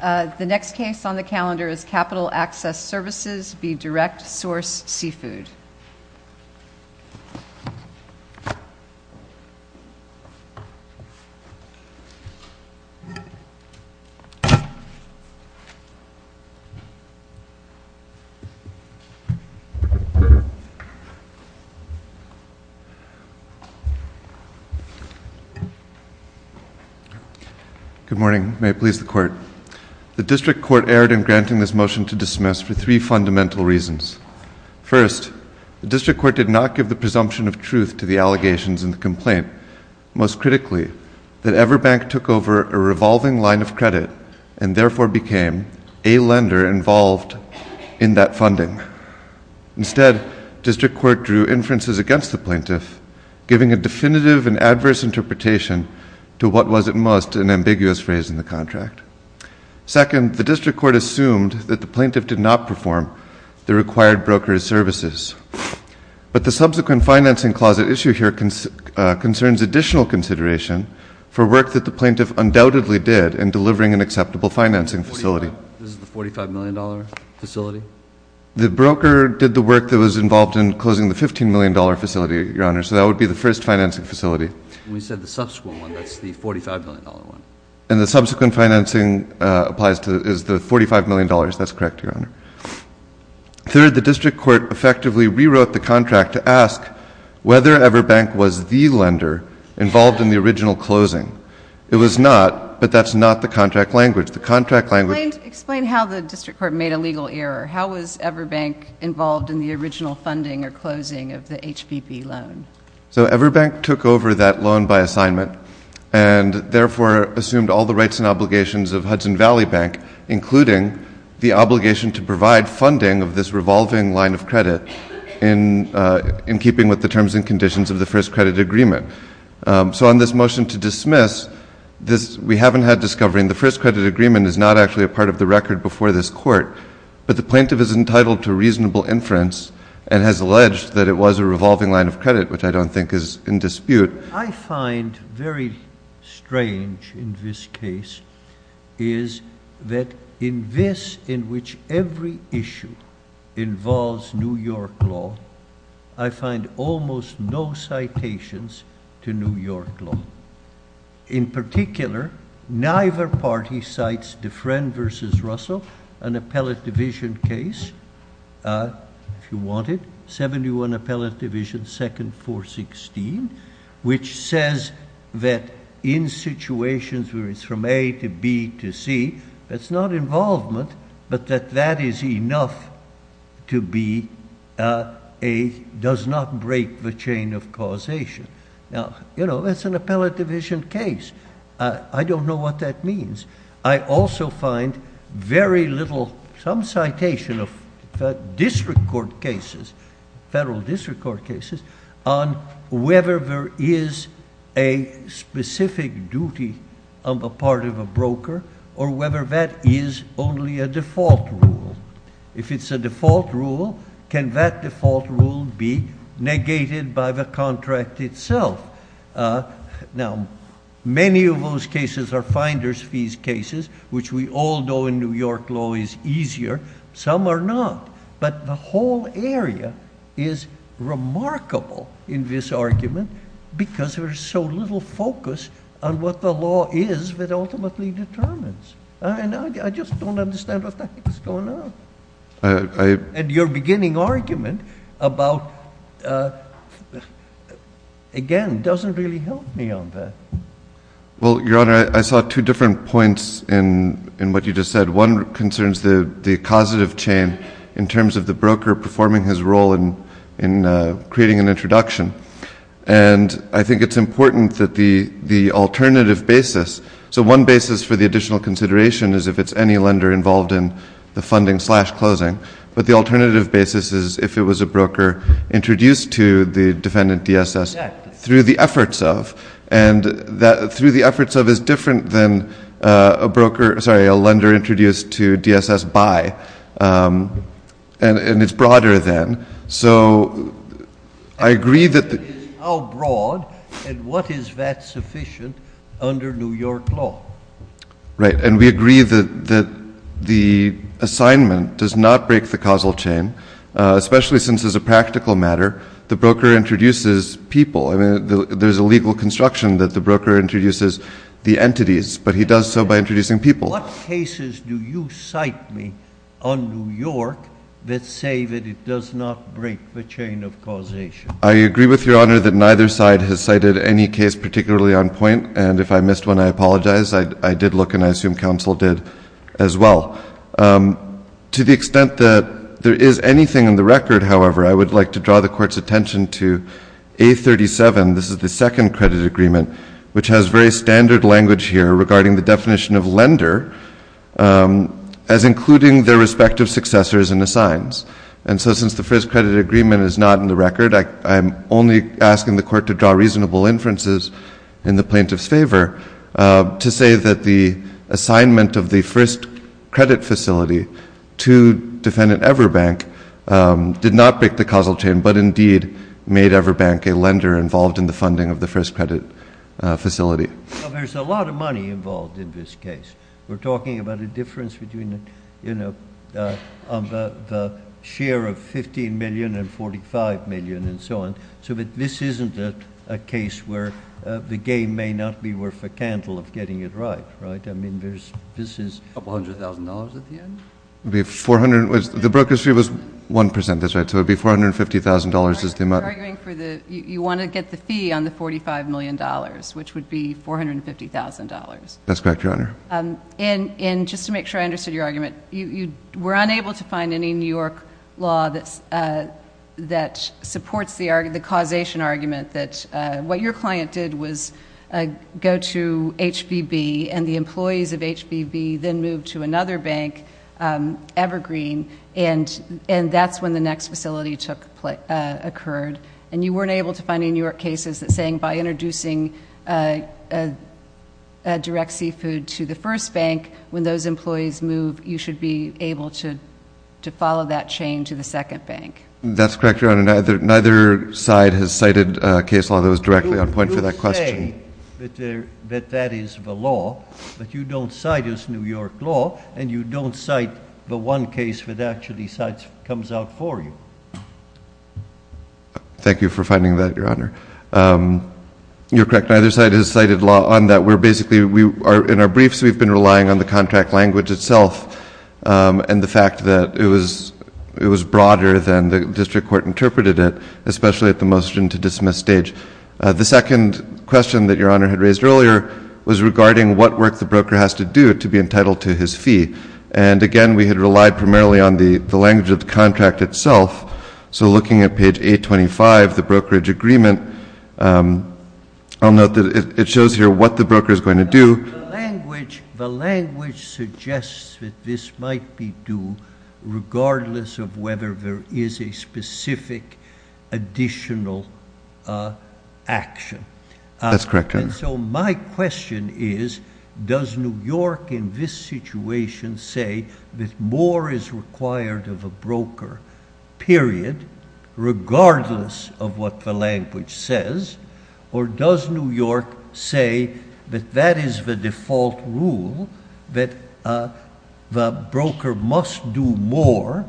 The next case on the calendar is Capital Access Services v. Direct Source Seafood. Good morning, may it please the Court. The District Court erred in granting this motion to dismiss for three fundamental reasons. First, the District Court did not give the presumption of truth to the allegations in the complaint, most critically that Everbank took over a revolving line of credit and therefore became a lender involved in that funding. Instead, the District Court drew inferences against the plaintiff, giving a definitive and adverse interpretation to what was at most an ambiguous phrase in the contract. Second, the District Court assumed that the plaintiff did not perform the required brokerage services. But the subsequent financing clause at issue here concerns additional consideration for work that the plaintiff undoubtedly did in delivering an acceptable financing facility. The broker did the work that was involved in closing the $15 million facility, Your Honor, so that would be the first financing facility. We said the subsequent one, that's the $45 million one. And the subsequent financing is the $45 million, that's correct, Your Honor. Third, the District Court effectively rewrote the contract to ask whether Everbank was the lender involved in the original closing. It was not, but that's not the contract language. Explain how the District Court made a legal error. How was Everbank involved in the original funding or closing of the HBB loan? So Everbank took over that loan by assignment and therefore assumed all the rights and obligations of Hudson Valley Bank, including the obligation to provide funding of this revolving line of credit in keeping with the terms and conditions of the first credit agreement. So on this motion to dismiss, we haven't had discovery, and the first credit agreement is not actually a part of the record before this court, but the plaintiff is entitled to reasonable inference and has alleged that it was a revolving line of credit, which I don't think is in dispute. I find very strange in this case is that in this, in which every issue involves New York law, I find almost no citations to New York law. There is also an appellate division case, if you want it, 71 Appellate Division, second 416, which says that in situations where it's from A to B to C, that's not involvement, but that that is enough to be a, does not break the chain of causation. Now, you know, that's an I also find very little, some citation of district court cases, federal district court cases on whether there is a specific duty of a part of a broker or whether that is only a default rule. If it's a default rule, can that default rule be negated by the contract itself? Uh, now many of those cases are finders fees cases, which we all know in New York law is easier. Some are not, but the whole area is remarkable in this argument because there's so little focus on what the law is that ultimately determines. I just don't understand what the heck is going on. And your beginning argument about, uh, again, doesn't really help me on that. Well, Your Honor, I saw two different points in, in what you just said. One concerns the, the causative chain in terms of the broker performing his role in, in, uh, creating an introduction. And I think it's important that the, the alternative basis. So one basis for additional consideration is if it's any lender involved in the funding slash closing, but the alternative basis is if it was a broker introduced to the defendant DSS through the efforts of, and that through the efforts of is different than, uh, a broker, sorry, a lender introduced to DSS by, um, and it's broader than, so I agree that. How broad and what is that sufficient under New York? Right. And we agree that, that the assignment does not break the causal chain, especially since as a practical matter, the broker introduces people. I mean, there's a legal construction that the broker introduces the entities, but he does so by introducing people. What cases do you cite me on New York that say that it does not break the chain of causation? I agree with Your Honor that neither side has cited any case particularly on point. And if I assume counsel did as well, um, to the extent that there is anything in the record. However, I would like to draw the court's attention to a 37. This is the second credit agreement, which has very standard language here regarding the definition of lender, um, as including their respective successors in the signs. And so since the first credit agreement is not in the record, I'm only asking the court to draw reasonable inferences in the plaintiff's favor, uh, to say that the assignment of the first credit facility to defendant Everbank, um, did not break the causal chain, but indeed made Everbank a lender involved in the funding of the first credit, uh, facility. Well, there's a lot of money involved in this case. We're talking about a difference between the, you know, uh, on the, the share of 15 million and 45 million and so on. So, but this isn't a, a case where, uh, the game may not be worth a candle of getting it right, right? I mean, there's, this is a couple hundred thousand dollars at the end. It'd be 400. The broker's fee was 1%. That's right. So it'd be $450,000 is the amount. You're arguing for the, you want to get the fee on the $45 million, which would be $450,000. That's correct, Your Honor. Um, and, and just to make sure I understood your argument, you, that supports the argument, the causation argument that, uh, what your client did was, uh, go to HBB and the employees of HBB then moved to another bank, um, Evergreen and, and that's when the next facility took place, uh, occurred. And you weren't able to find any New York cases that saying by introducing, uh, uh, uh, direct seafood to the first bank, when those employees move, you should be able to, to follow that chain to the second bank. That's correct, Your Honor. Neither, neither side has cited a case law that was directly on point for that question. You say that there, that that is the law, but you don't cite as New York law and you don't cite the one case that actually cites, comes out for you. Thank you for finding that, Your Honor. Um, you're correct. Neither side has cited law on that. We're basically, we are in our briefs. We've been relying on the contract language itself. Um, and the fact that it was, it was broader than the district court interpreted it, especially at the motion to dismiss stage. Uh, the second question that Your Honor had raised earlier was regarding what work the broker has to do to be entitled to his fee. And again, we had relied primarily on the, the language of the contract itself. So looking at page 825, the brokerage agreement, um, I'll note that it shows here what the broker is going to do. Language, the language suggests that this might be due regardless of whether there is a specific additional, uh, action. That's correct. And so my question is, does New York in this situation say that more is required of a broker period, regardless of what the language says, or does New York say that that is the default rule that, uh, the broker must do more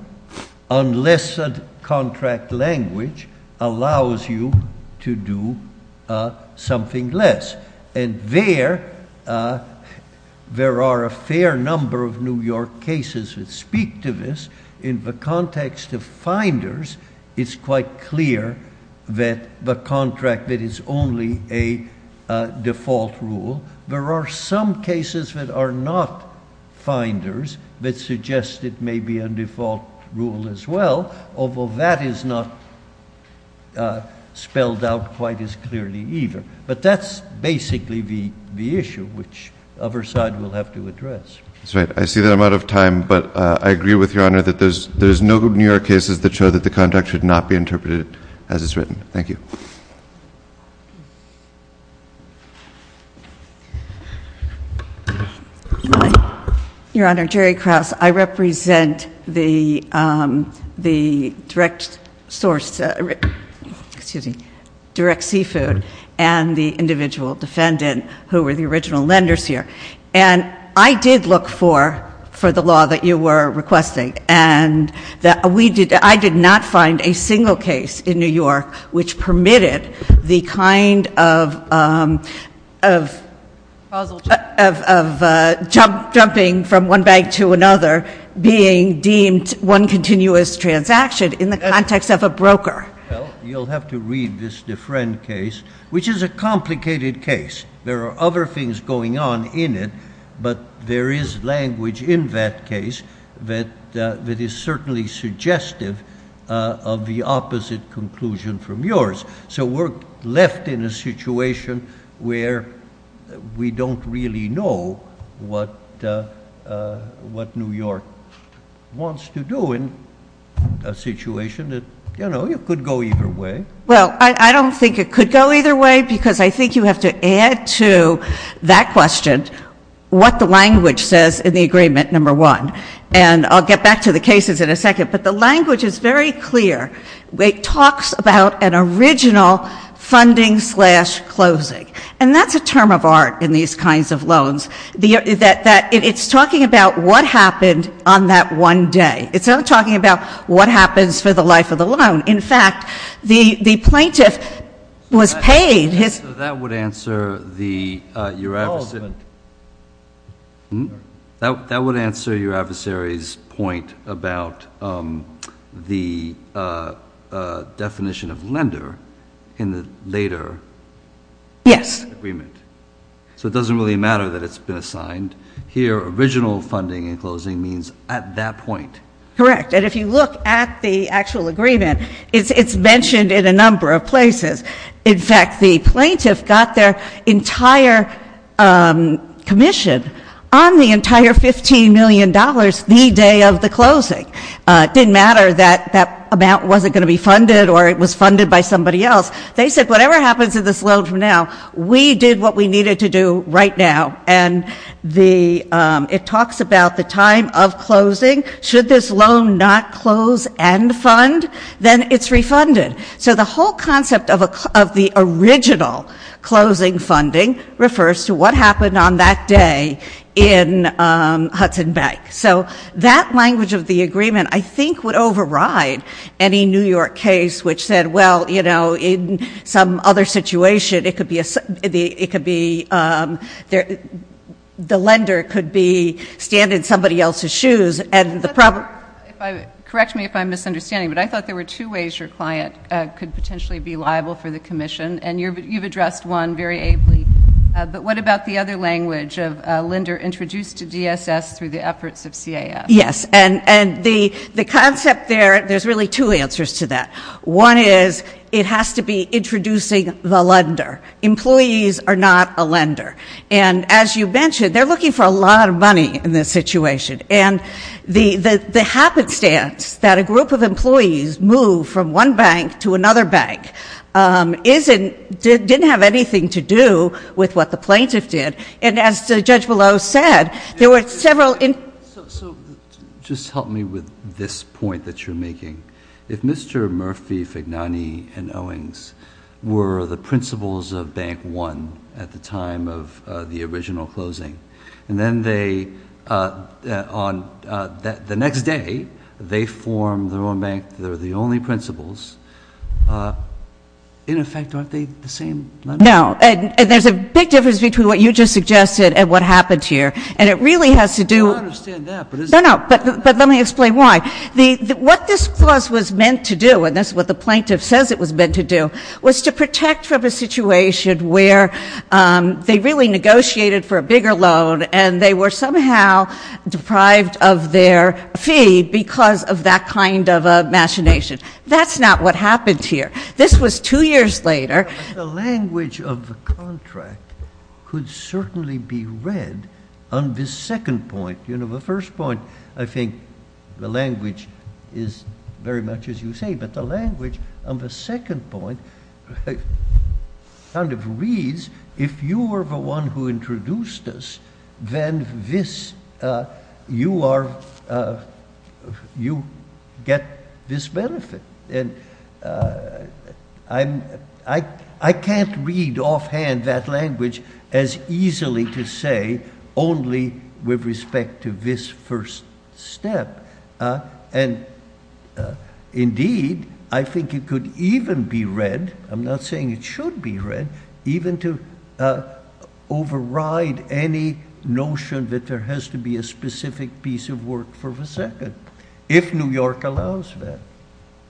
unless a contract language allows you to do, uh, something less. And there, uh, there are a fair number of New York cases that speak to this in the context of finders. It's quite clear that the contract that is only a, uh, default rule. There are some cases that are not finders that suggest it may be a default rule as well, although that is not, uh, spelled out quite as clearly either. But that's basically the, the issue which other side will have to address. That's right. I see that I'm out of time, but, uh, I agree with Your Honor that there's, there's no New York cases that show that the contract should not be interpreted as it's written. Thank you. Your Honor, Jerry Krause. I represent the, um, the direct source, uh, excuse me, direct seafood and the individual defendant who were the original lenders here. And I did look for, for the law that you were requesting and that we did, I did not find a single case in New York which permitted the kind of, um, of, of, uh, jump, jumping from one bank to another, being deemed one continuous transaction in the context of a broker. Well, you'll have to read this different case, which is a complicated case. There are other things going on in it, but there is language in that case that, uh, that is certainly suggestive, uh, of the opposite conclusion from yours. So we're left in a situation where we don't really know what, uh, uh, what New York wants to do in a situation that, you know, you could go either way. Well, I, I don't think it could go either way because I think you have to add to that question what the language says in the agreement, number one. And I'll get back to the cases in a second, but the language is very clear. It talks about an original funding slash closing. And that's a term of art in these kinds of loans. The, that, that it's talking about what happened on that one day. It's not talking about what happens for the life of the loan. In fact, the, the plaintiff was paid his... So that would answer the, uh, your adversary's point about, um, the, uh, uh, definition of lender in the later agreement. Yes. So it doesn't really matter that it's been assigned. Here, original funding and closing means at that point. Correct. And if you look at the actual agreement, it's, it's mentioned in a number of places. In fact, the plaintiff got their entire, um, commission on the entire $15 million the day of the closing. Uh, it didn't matter that, that amount wasn't going to be funded or it was funded by somebody else. They said, whatever happens to this loan from now, we did what we needed to do right now. And the, um, it talks about the time of closing. Should this loan not close and fund, then it's refunded. So the whole concept of a, of the original closing funding refers to what happened on that day in, um, Hudson Bank. So that language of the agreement, I think would override any New York case, which said, well, you know, in some other situation, it could be a, it could be, um, there, the lender could be, stand in somebody else's shoes and the problem. If I, correct me if I'm misunderstanding, but I thought there were two ways your client, uh, could potentially be liable for the commission. And you're, you've addressed one very ably. Uh, but what about the other language of, uh, lender introduced to DSS through the efforts of CAS? Yes. And, and the, the concept there, there's really two answers to that. One is it has to be And as you mentioned, they're looking for a lot of money in this situation. And the, the, the happenstance that a group of employees move from one bank to another bank, um, isn't, didn't have anything to do with what the plaintiff did. And as the judge below said, there were several. So just help me with this point that you're making. If Mr. Murphy, Fignani and Owings were the principals of bank one at the time of, uh, the original closing, and then they, uh, uh, on, uh, the next day they formed their own bank. They're the only principals, uh, in effect, aren't they the same? No. And there's a big difference between what you just suggested and what happened here. And it really has to do. I understand that, but it's. No, no. But, but let me explain why. The, what this clause was meant to do, and that's what the plaintiff says it was meant to do, was to protect from a situation where, um, they really negotiated for a bigger loan and they were somehow deprived of their fee because of that kind of a machination. That's not what happened here. This was two years later. The language of the contract could certainly be read on this second point. You know, the first point, I think the language is very much as you say, but the language on the second point kind of reads, if you were the one who introduced us, then this, uh, you are, uh, you get this benefit. And, uh, I'm, I, I can't read offhand that language as easily to say only with respect to this first step. Uh, and, uh, indeed, I think it could even be read. I'm not saying it should be read even to, uh, override any notion that there has to be a specific piece of work for the second, if New York allows that.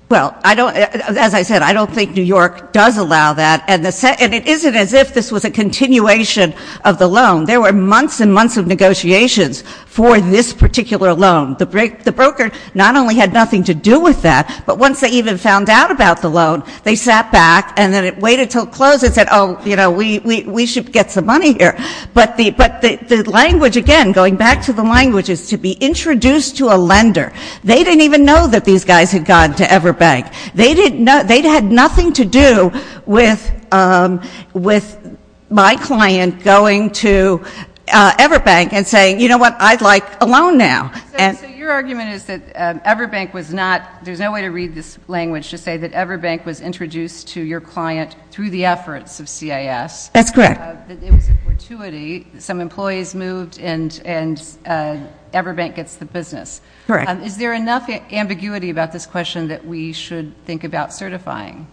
Well, I don't, as I said, I don't think New York does allow that and it isn't as if this was a continuation of the loan. There were months and months of negotiations for this particular loan. The broker not only had nothing to do with that, but once they even found out about the loan, they sat back and then it waited until it closed and said, oh, you know, we, we should get some money here. But the, but the language, again, going back to the language, is to be introduced to a lender. They didn't even know that these guys had gone to Everbank. They didn't know, they'd had nothing to do with, um, with my client going to, uh, Everbank and saying, you know what, I'd like a loan now. So, so your argument is that, uh, Everbank was not, there's no way to read this language to say that Everbank was introduced to your client through the efforts of CIS. That's correct. Uh, that it was a fortuity, some employees moved and, and, uh, Everbank gets the business. Correct. Um, is there enough ambiguity about this question that we should think about certifying?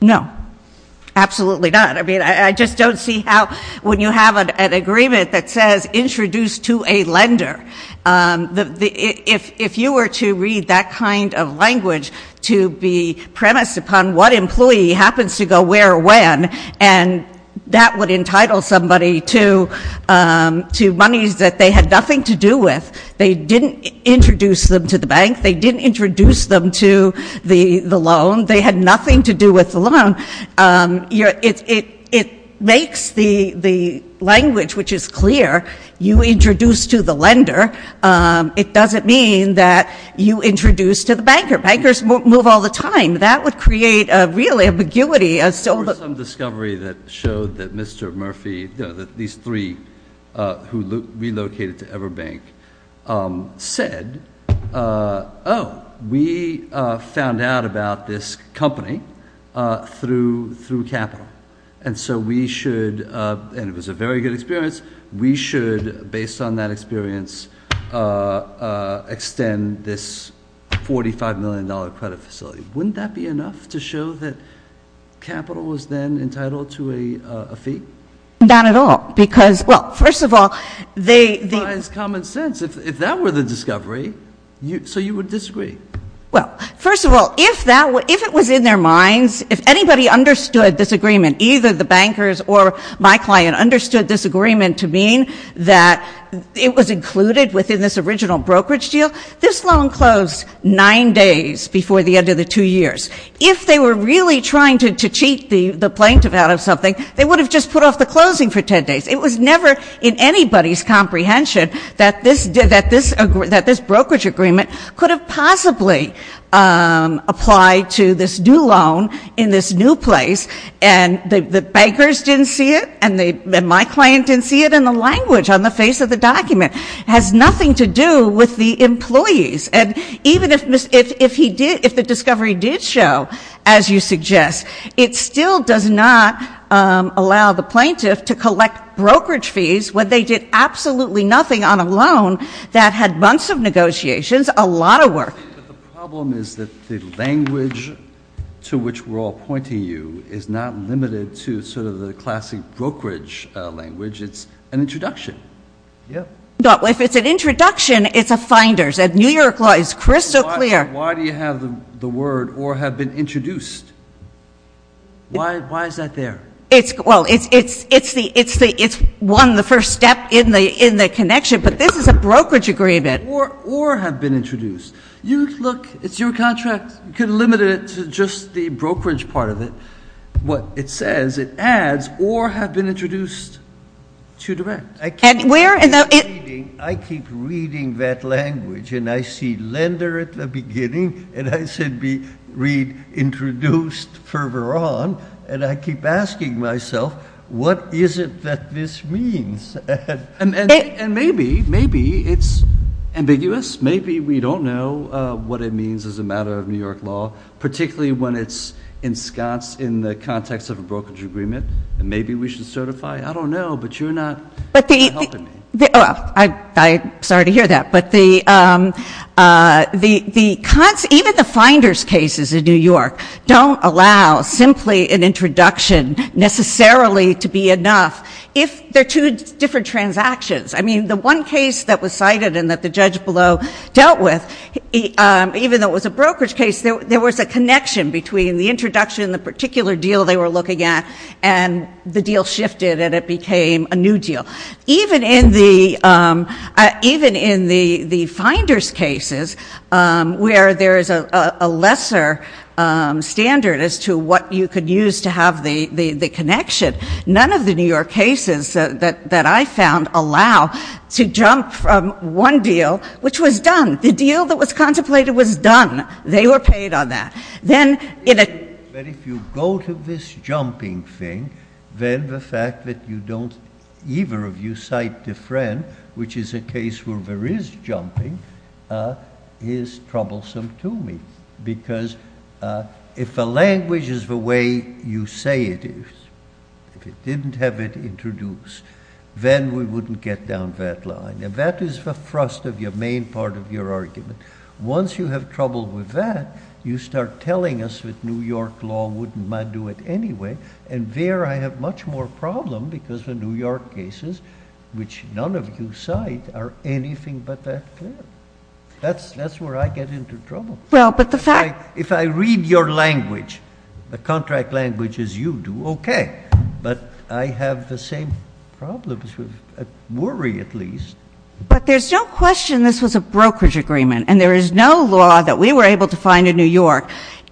No. Absolutely not. I mean, I, I just don't see how, when you have an, an agreement that says introduced to a lender, um, the, the, if, if you were to read that kind of language to be premised upon what employee happens to go where when, and that would entitle somebody to, um, to monies that they had nothing to do with. They didn't introduce them to the bank. They didn't introduce them to the, the loan. They had nothing to do with the loan. Um, you're, it's, it, it makes the, the language, which is clear, you introduce to the lender. Um, it doesn't mean that you introduce to the banker. Bankers move all the time. That would create a real ambiguity as so. There was some discovery that showed that Mr. Murphy, you know, that these three, uh, who relocated to ever bank, um, said, uh, Oh, we, uh, found out about this company, uh, through, through capital. And so we should, uh, and it was a very good experience. We should, based on that experience, uh, uh, extend this $45 million credit facility. Wouldn't that be enough to show that capital was then entitled to a, a fee? Not at all. Because, well, first of all, they, they. It's common sense. If, if that were the discovery, you, so you would disagree? Well, first of all, if that were, if it was in their minds, if anybody understood this agreement, either the bankers or my client understood this agreement to mean that it was included within this original brokerage deal, this loan closed nine days before the end of the two years. If they were really trying to, to cheat the, the plaintiff out of something, they would have just put off the closing for ten days. It was never in anybody's comprehension that this, that this, that this brokerage agreement could have possibly, um, applied to this new loan in this new place, and the, the bankers didn't see it, and they, and my client didn't see it in the language on the face of the document. It has nothing to do with the employees. And even if, if, if he did, if the discovery did show, as you suggest, it still does not, um, allow the plaintiff to collect brokerage fees when they did absolutely nothing on a loan that had months of negotiations, a lot of work. But the problem is that the language to which we're all pointing you is not limited to sort of the classic brokerage, uh, language. It's an introduction. Yeah. But if it's an introduction, it's a finder. At New York Law, it's crystal clear. Why, why do you have the, the word, or have been introduced? Why, why is that there? It's, well, it's, it's, it's the, it's the, it's one, the first step in the, in the connection, but this is a brokerage agreement. Or, or have been introduced. You look, it's your contract. You could have limited it to just the brokerage part of it. What it says, it adds, or have been introduced to direct. And where in the... I keep reading, I keep reading that language, and I see lender at the beginning, and I said be, read introduced further on, and I keep asking myself, what is it that this means? And, and, and maybe, maybe it's ambiguous. Maybe we don't know, uh, what it means as a matter of New York Law, particularly when it's ensconced in the context of a brokerage agreement. And maybe we should certify. I don't know, but you're helping me. But the, the, well, I, I, sorry to hear that, but the, um, uh, the, the, even the finders cases in New York don't allow simply an introduction necessarily to be enough if they're two different transactions. I mean, the one case that was cited and that the judge below dealt with, even though it was a brokerage case, there, there was a connection between the introduction and the particular deal they were looking at, and the deal shifted and it became a new deal. Even in the, um, uh, even in the, the finders cases, um, where there is a, a, a lesser, um, standard as to what you could use to have the, the, the connection, none of the New York cases, uh, that, that I found allow to jump from one deal, which was done. The deal that was contemplated was done. They were paid on that. Then in a few go to this jumping thing, then the fact that you don't either of you cite the friend, which is a case where there is jumping, uh, is troublesome to me because, uh, if the language is the way you say it is, if it didn't have it introduced, then we wouldn't get down that line. And that is the thrust of your main part of your argument. Once you have trouble with that, you start telling us with New York law, wouldn't mind do it anyway. And there I have much more problem because the New York cases, which none of you cite are anything but that clear. That's, that's where I get into trouble. Well, but the fact, if I read your language, the contract language is you do. Okay. But I have the same problems with worry at least, but there's no question this was a brokerage agreement and there is no law that we were able to find in New York,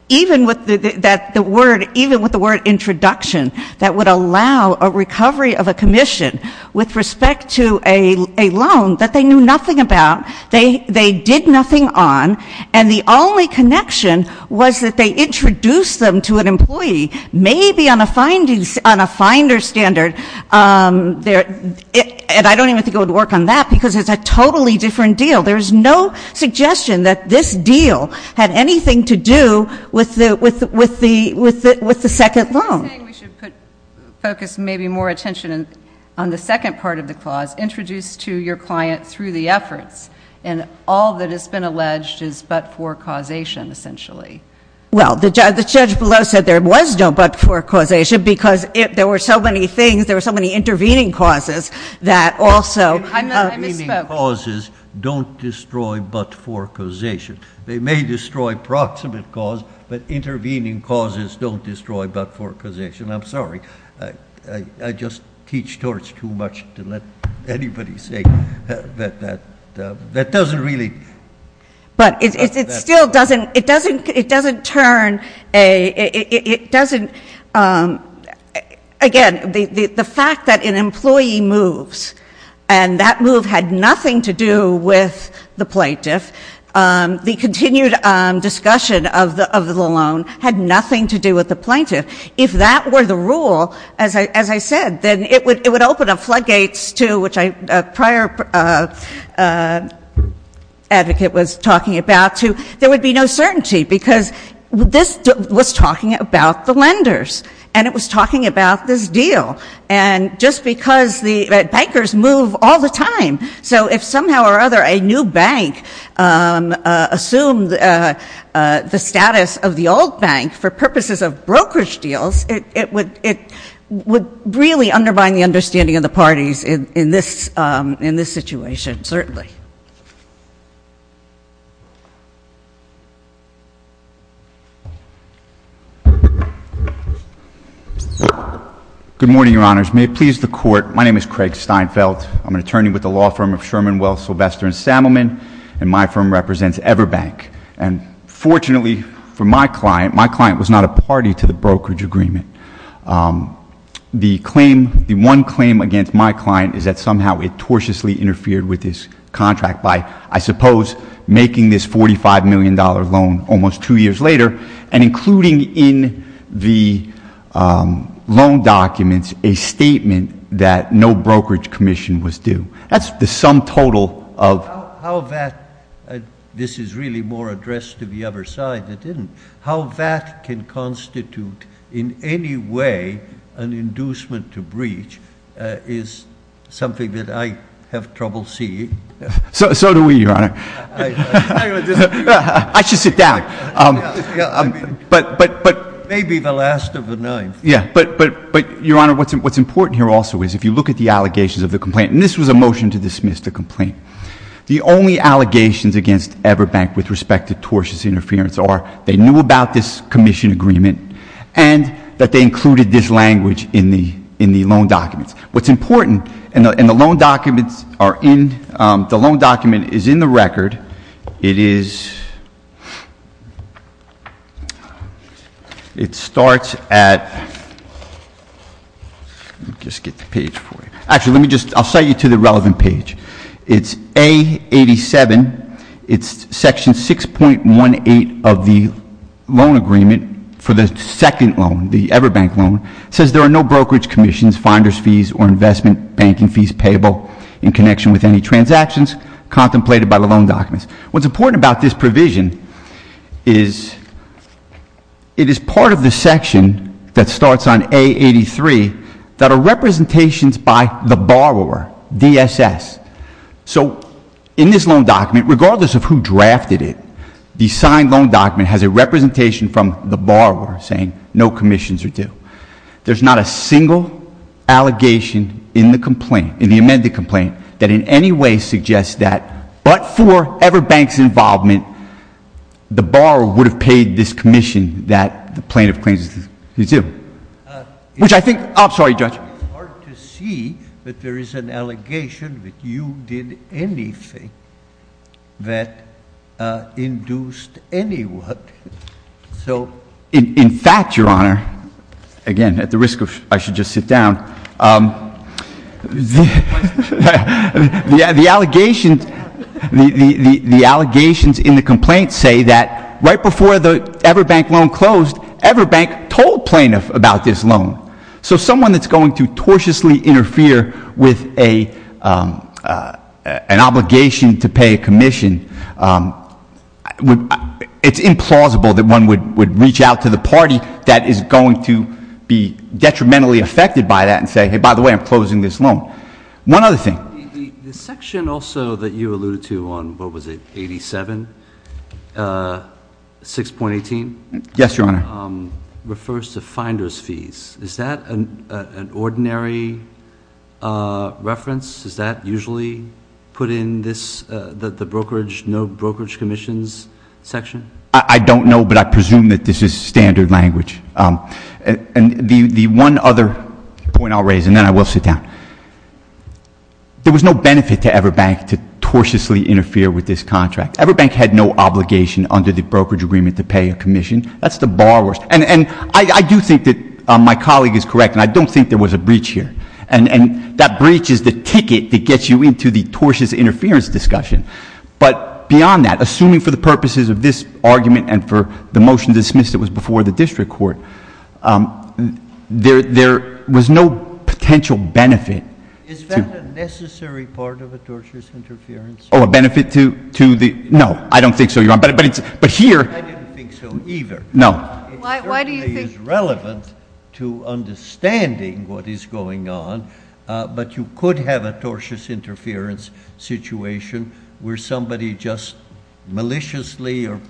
even with the, that the word, even with the word introduction, that would allow a recovery of a commission with respect to a loan that they knew nothing about. They, they did nothing on and the only connection was that they introduced them to an employee, maybe on a findings on a finder standard. Um, there, and I don't even think it would work on that because it's a totally different deal. There's no suggestion that this deal had anything to do with the, with, with the, with the, with the second loan. You're saying we should put, focus maybe more attention on the second part of the clause, introduced to your client through the efforts and all that has been alleged is but-for causation essentially. Well, the judge, the judge below said there was no but-for causation because it, there were so many things, there were so many intervening causes that also. I misspoke. Intervening causes don't destroy but-for causation. They may destroy proximate cause, but intervening causes don't destroy but-for causation. I'm sorry. I, I, I just teach torch too much to let anybody say that, that, that doesn't really. But it, it, it still doesn't, it doesn't, it doesn't turn a, it, it, it doesn't, um, again, the, the, the fact that an employee moves and that move had nothing to do with the plaintiff, um, the continued, um, discussion of the, of the loan had nothing to do with the plaintiff, if that were the rule, as I, as I said, then it would, it would open up floodgates to, which I, prior, uh, advocate was talking about, to, there would be no certainty because this was talking about the lenders and it was talking about this deal. And just because the bankers move all the time, so if somehow or other a new bank, um, uh, assumed, uh, uh, the status of the old bank for purposes of brokerage deals, it, it would, it would really undermine the understanding of the parties in, in this, um, in this situation, certainly. Good morning, Your Honors. May it please the Court. My name is Craig Steinfeld. I'm an attorney with the law firm of Sherman, Wells, Sylvester & Sammelman, and my firm represents Everbank. And fortunately for my client, my client was not a party to the brokerage agreement. Um, the claim, the one claim against my client is that somehow it tortiously interfered with this contract by, I suppose, making this $45 million loan almost two years later and including in the, um, loan documents a statement that no brokerage commission was due. That's the sum total of... How, how that, this is really more addressed to the other side that didn't, how that can constitute in any way an inducement to breach, uh, is something that I have trouble seeing. So, so do we, Your Honor. I should sit down. Um, but, but, uh, I, I, I, I, I may be the last of the nine. Yeah, but, but, but Your Honor, what's, what's important here also is if you look at the allegations of the complaint, and this was a motion to dismiss the complaint, the only allegations against Everbank with respect to tortious interference are they knew about this commission agreement and that they included this language in the, in the loan documents. What's important, and the, and the loan documents are in, um, the loan documents, it starts at, let me just get the page for you. Actually, let me just, I'll cite you to the relevant page. It's A87, it's section 6.18 of the loan agreement for the second loan, the Everbank loan. It says there are no brokerage commissions, finder's fees or investment banking fees payable in connection with any transactions contemplated by the loan documents. What's important about this provision is it is part of the section that starts on A83 that are representations by the borrower, DSS. So in this loan document, regardless of who drafted it, the signed loan document has a representation from the borrower saying no commissions are due. There's not a single allegation in the complaint, in the complaint, for Everbank's involvement, the borrower would have paid this commission that the plaintiff claims he's due. Which I think, I'm sorry, Judge. It's hard to see that there is an allegation that you did anything that, uh, induced anyone. So. In, in fact, Your Honor, again, at the risk of, I should just sit down, um, the, the, the allegations, the allegations in the complaint say that right before the Everbank loan closed, Everbank told plaintiff about this loan. So someone that's going to tortiously interfere with a, um, uh, an obligation to pay a commission, um, would, it's implausible that one would would reach out to the party that is going to be detrimentally affected by that and say, hey, by the way, I'm closing this loan. One other thing. The section also that you alluded to on, what was it, 87, uh, 6.18. Yes, Your Honor. Um, refers to finder's fees. Is that an, uh, an ordinary, uh, reference? Is that usually put in this, uh, the, the brokerage, no brokerage commissions section? I, I don't know, but I presume that this is standard language. Um, and the, the one other point I'll raise and then I will sit down. There was no benefit to Everbank to tortuously interfere with this contract. Everbank had no obligation under the brokerage agreement to pay a commission. That's the borrowers. And, and I, I do think that, um, my colleague is correct and I don't think there was a breach here. And, and that breach is the ticket that gets you into the tortuous interference discussion. But beyond that, assuming for the purposes of this argument and for the motion dismissed it was before the district court, um, there, there was no potential benefit. Is that a necessary part of a tortuous interference? Oh, a benefit to, to the, no, I don't think so, Your Honor. But, but it's, but here. I didn't think so either. No. Why, why do you think? It certainly is relevant to understanding what is going on. Uh, but you could have a tortuous interference situation where somebody just maliciously or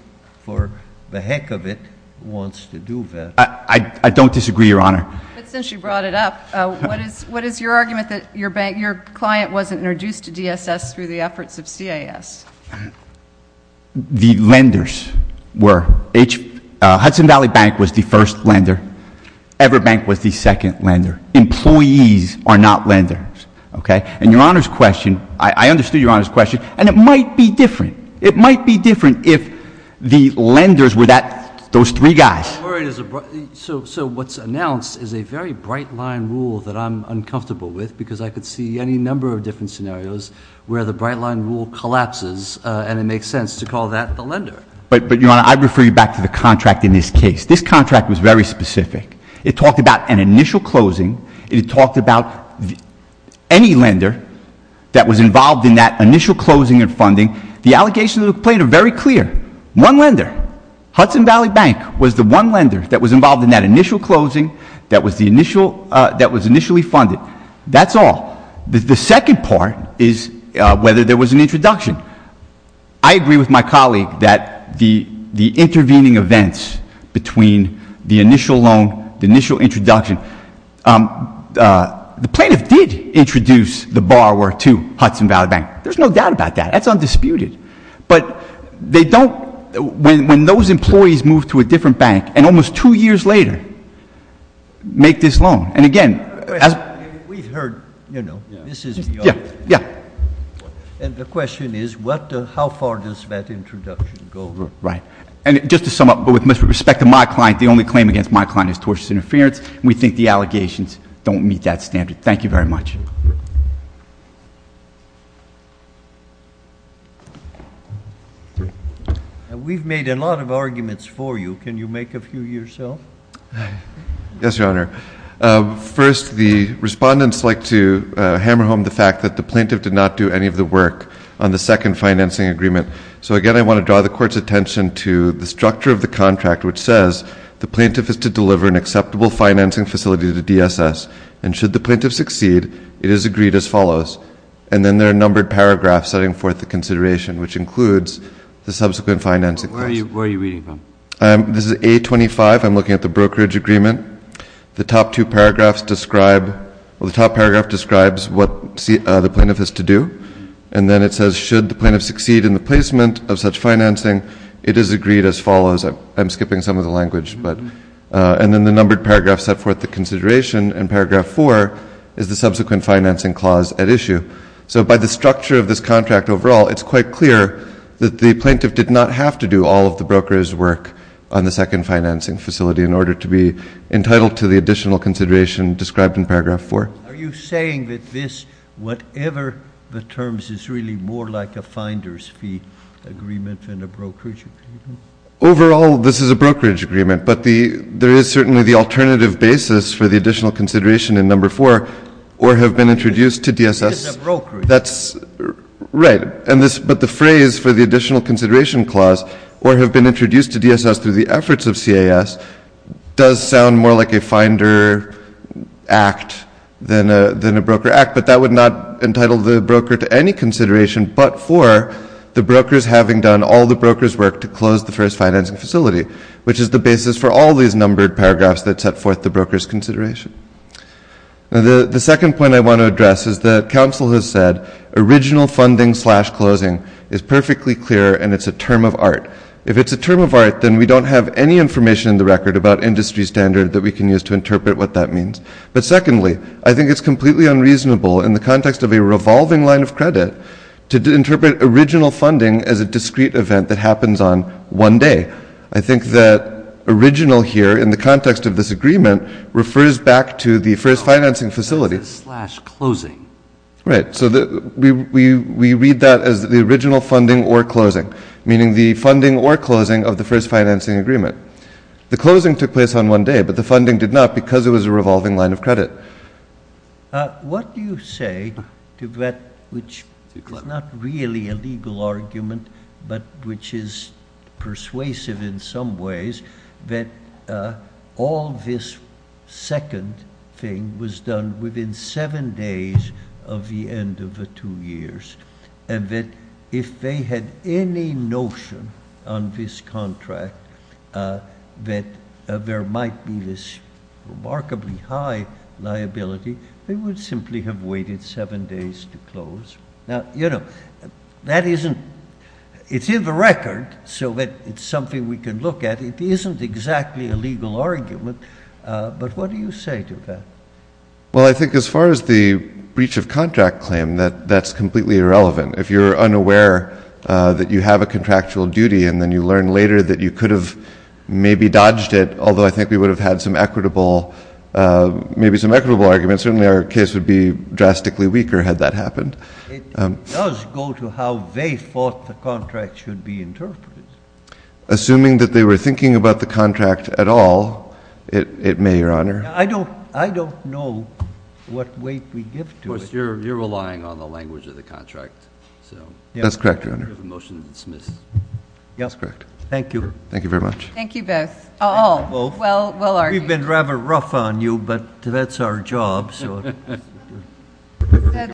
for the heck of it wants to do that. I, I, I don't disagree, Your Honor. But since you brought it up, uh, what is, what is your argument that your bank, your client wasn't introduced to DSS through the efforts of CIS? The lenders were. H, uh, Hudson Valley Bank was the first lender. Ever Bank was the second lender. Employees are not lenders. Okay. And Your Honor's question, I, I understood Your Honor's question and it might be different. It might be different if the lenders were that, those three guys. So, so what's announced is a very bright line rule that I'm, I'm comfortable with because I could see any number of different scenarios where the bright line rule collapses, uh, and it makes sense to call that the lender. But, but Your Honor, I refer you back to the contract in this case. This contract was very specific. It talked about an initial closing. It talked about any lender that was involved in that initial closing and funding. The allegations that were played are very clear. One lender, Hudson Valley Bank was the one lender that was involved in that initial closing that was the initial, that was initially funded. That's all. The, the second part is, uh, whether there was an introduction. I agree with my colleague that the, the intervening events between the initial loan, the initial introduction, um, uh, the plaintiff did introduce the borrower to Hudson Valley Bank. There's no doubt about that. That's undisputed. But they don't, when, when those employees move to a different bank and almost two years later make this loan. And again, as we've heard, you know, this is, yeah, yeah. And the question is what, how far does that introduction go? Right. And just to sum up, but with respect to my client, the only claim against my client is tortious interference. We think the allegations don't meet that standard. Thank you very much. And we've made a lot of arguments for you. Can you make a few yourself? Yes, Your Honor. Uh, first the respondents like to, uh, hammer home the fact that the plaintiff did not do any of the work on the second financing agreement. So again, I want to draw the court's attention to the structure of the contract, which says the plaintiff is to deliver an acceptable financing facility to DSS. And should the plaintiff succeed, it is agreed as follows. And then there are numbered paragraphs setting forth the consideration, which includes the subsequent financing. Where are you, where are you reading from? Um, this is A25. I'm looking at the brokerage agreement. The top two paragraphs describe, well, the top paragraph describes what the plaintiff has to do. And then it says, should the plaintiff succeed in the placement of such financing, it is agreed as follows. I'm Uh, and then the numbered paragraph set forth the consideration and paragraph four is the subsequent financing clause at issue. So by the structure of this contract overall, it's quite clear that the plaintiff did not have to do all of the brokerage work on the second financing facility in order to be entitled to the additional consideration described in paragraph four. Are you saying that this, whatever the terms is really more like a finder's agreement than a brokerage agreement? Overall, this is a brokerage agreement, but the, there is certainly the alternative basis for the additional consideration in number four or have been introduced to DSS. That's right. And this, but the phrase for the additional consideration clause or have been introduced to DSS through the efforts of CAS does sound more like a finder act than a, than a broker act, but that would not entitle the broker to any consideration, but for the brokers having done all the broker's work to close the first financing facility, which is the basis for all these numbered paragraphs that set forth the broker's consideration. Now the, the second point I want to address is that council has said original funding slash closing is perfectly clear and it's a term of art. If it's a term of art, then we don't have any information in the record about industry standard that we can use to interpret what that means. But secondly, I think it's completely unreasonable in the context of a revolving line of credit to interpret original funding as a discrete event that happens on one day. I think that original here in the context of this agreement refers back to the first financing facility. Oh, that's a slash closing. Right. So we, we, we read that as the original funding or closing, meaning the funding or closing of the first financing agreement. The closing took place on one day, but the funding did not because it was a revolving line of credit. Uh, what do you say to that, which is not really a legal argument, but which is persuasive in some ways that, uh, all this second thing was done within seven days of the end of the two years. And that if they had any notion on this contract, uh, that, uh, there might be this remarkably high liability, they would simply have waited seven days to close. Now, you know, that isn't, it's in the record so that it's something we can look at. It isn't exactly a legal argument. Uh, but what do you say to that? Well, I think as far as the breach of contract claim that that's completely irrelevant. If you're unaware, uh, that you have a contractual duty and then you learn later that you could have maybe dodged it. Although I think we would have had some equitable, uh, maybe some equitable arguments. Certainly our case would be drastically weaker had that happened. Um, let's go to how they fought the contract should be interpreted. Assuming that they were thinking about the contract at all. It, it may your honor. I don't, I don't know what weight we give to it. You're, you're relying on the language of the contract. So that's correct. You have a motion to dismiss. Yes. Correct. Thank you. Thank you very much. Thank you Beth. Oh, well, well, we've been rather rough on you, but that's our job. So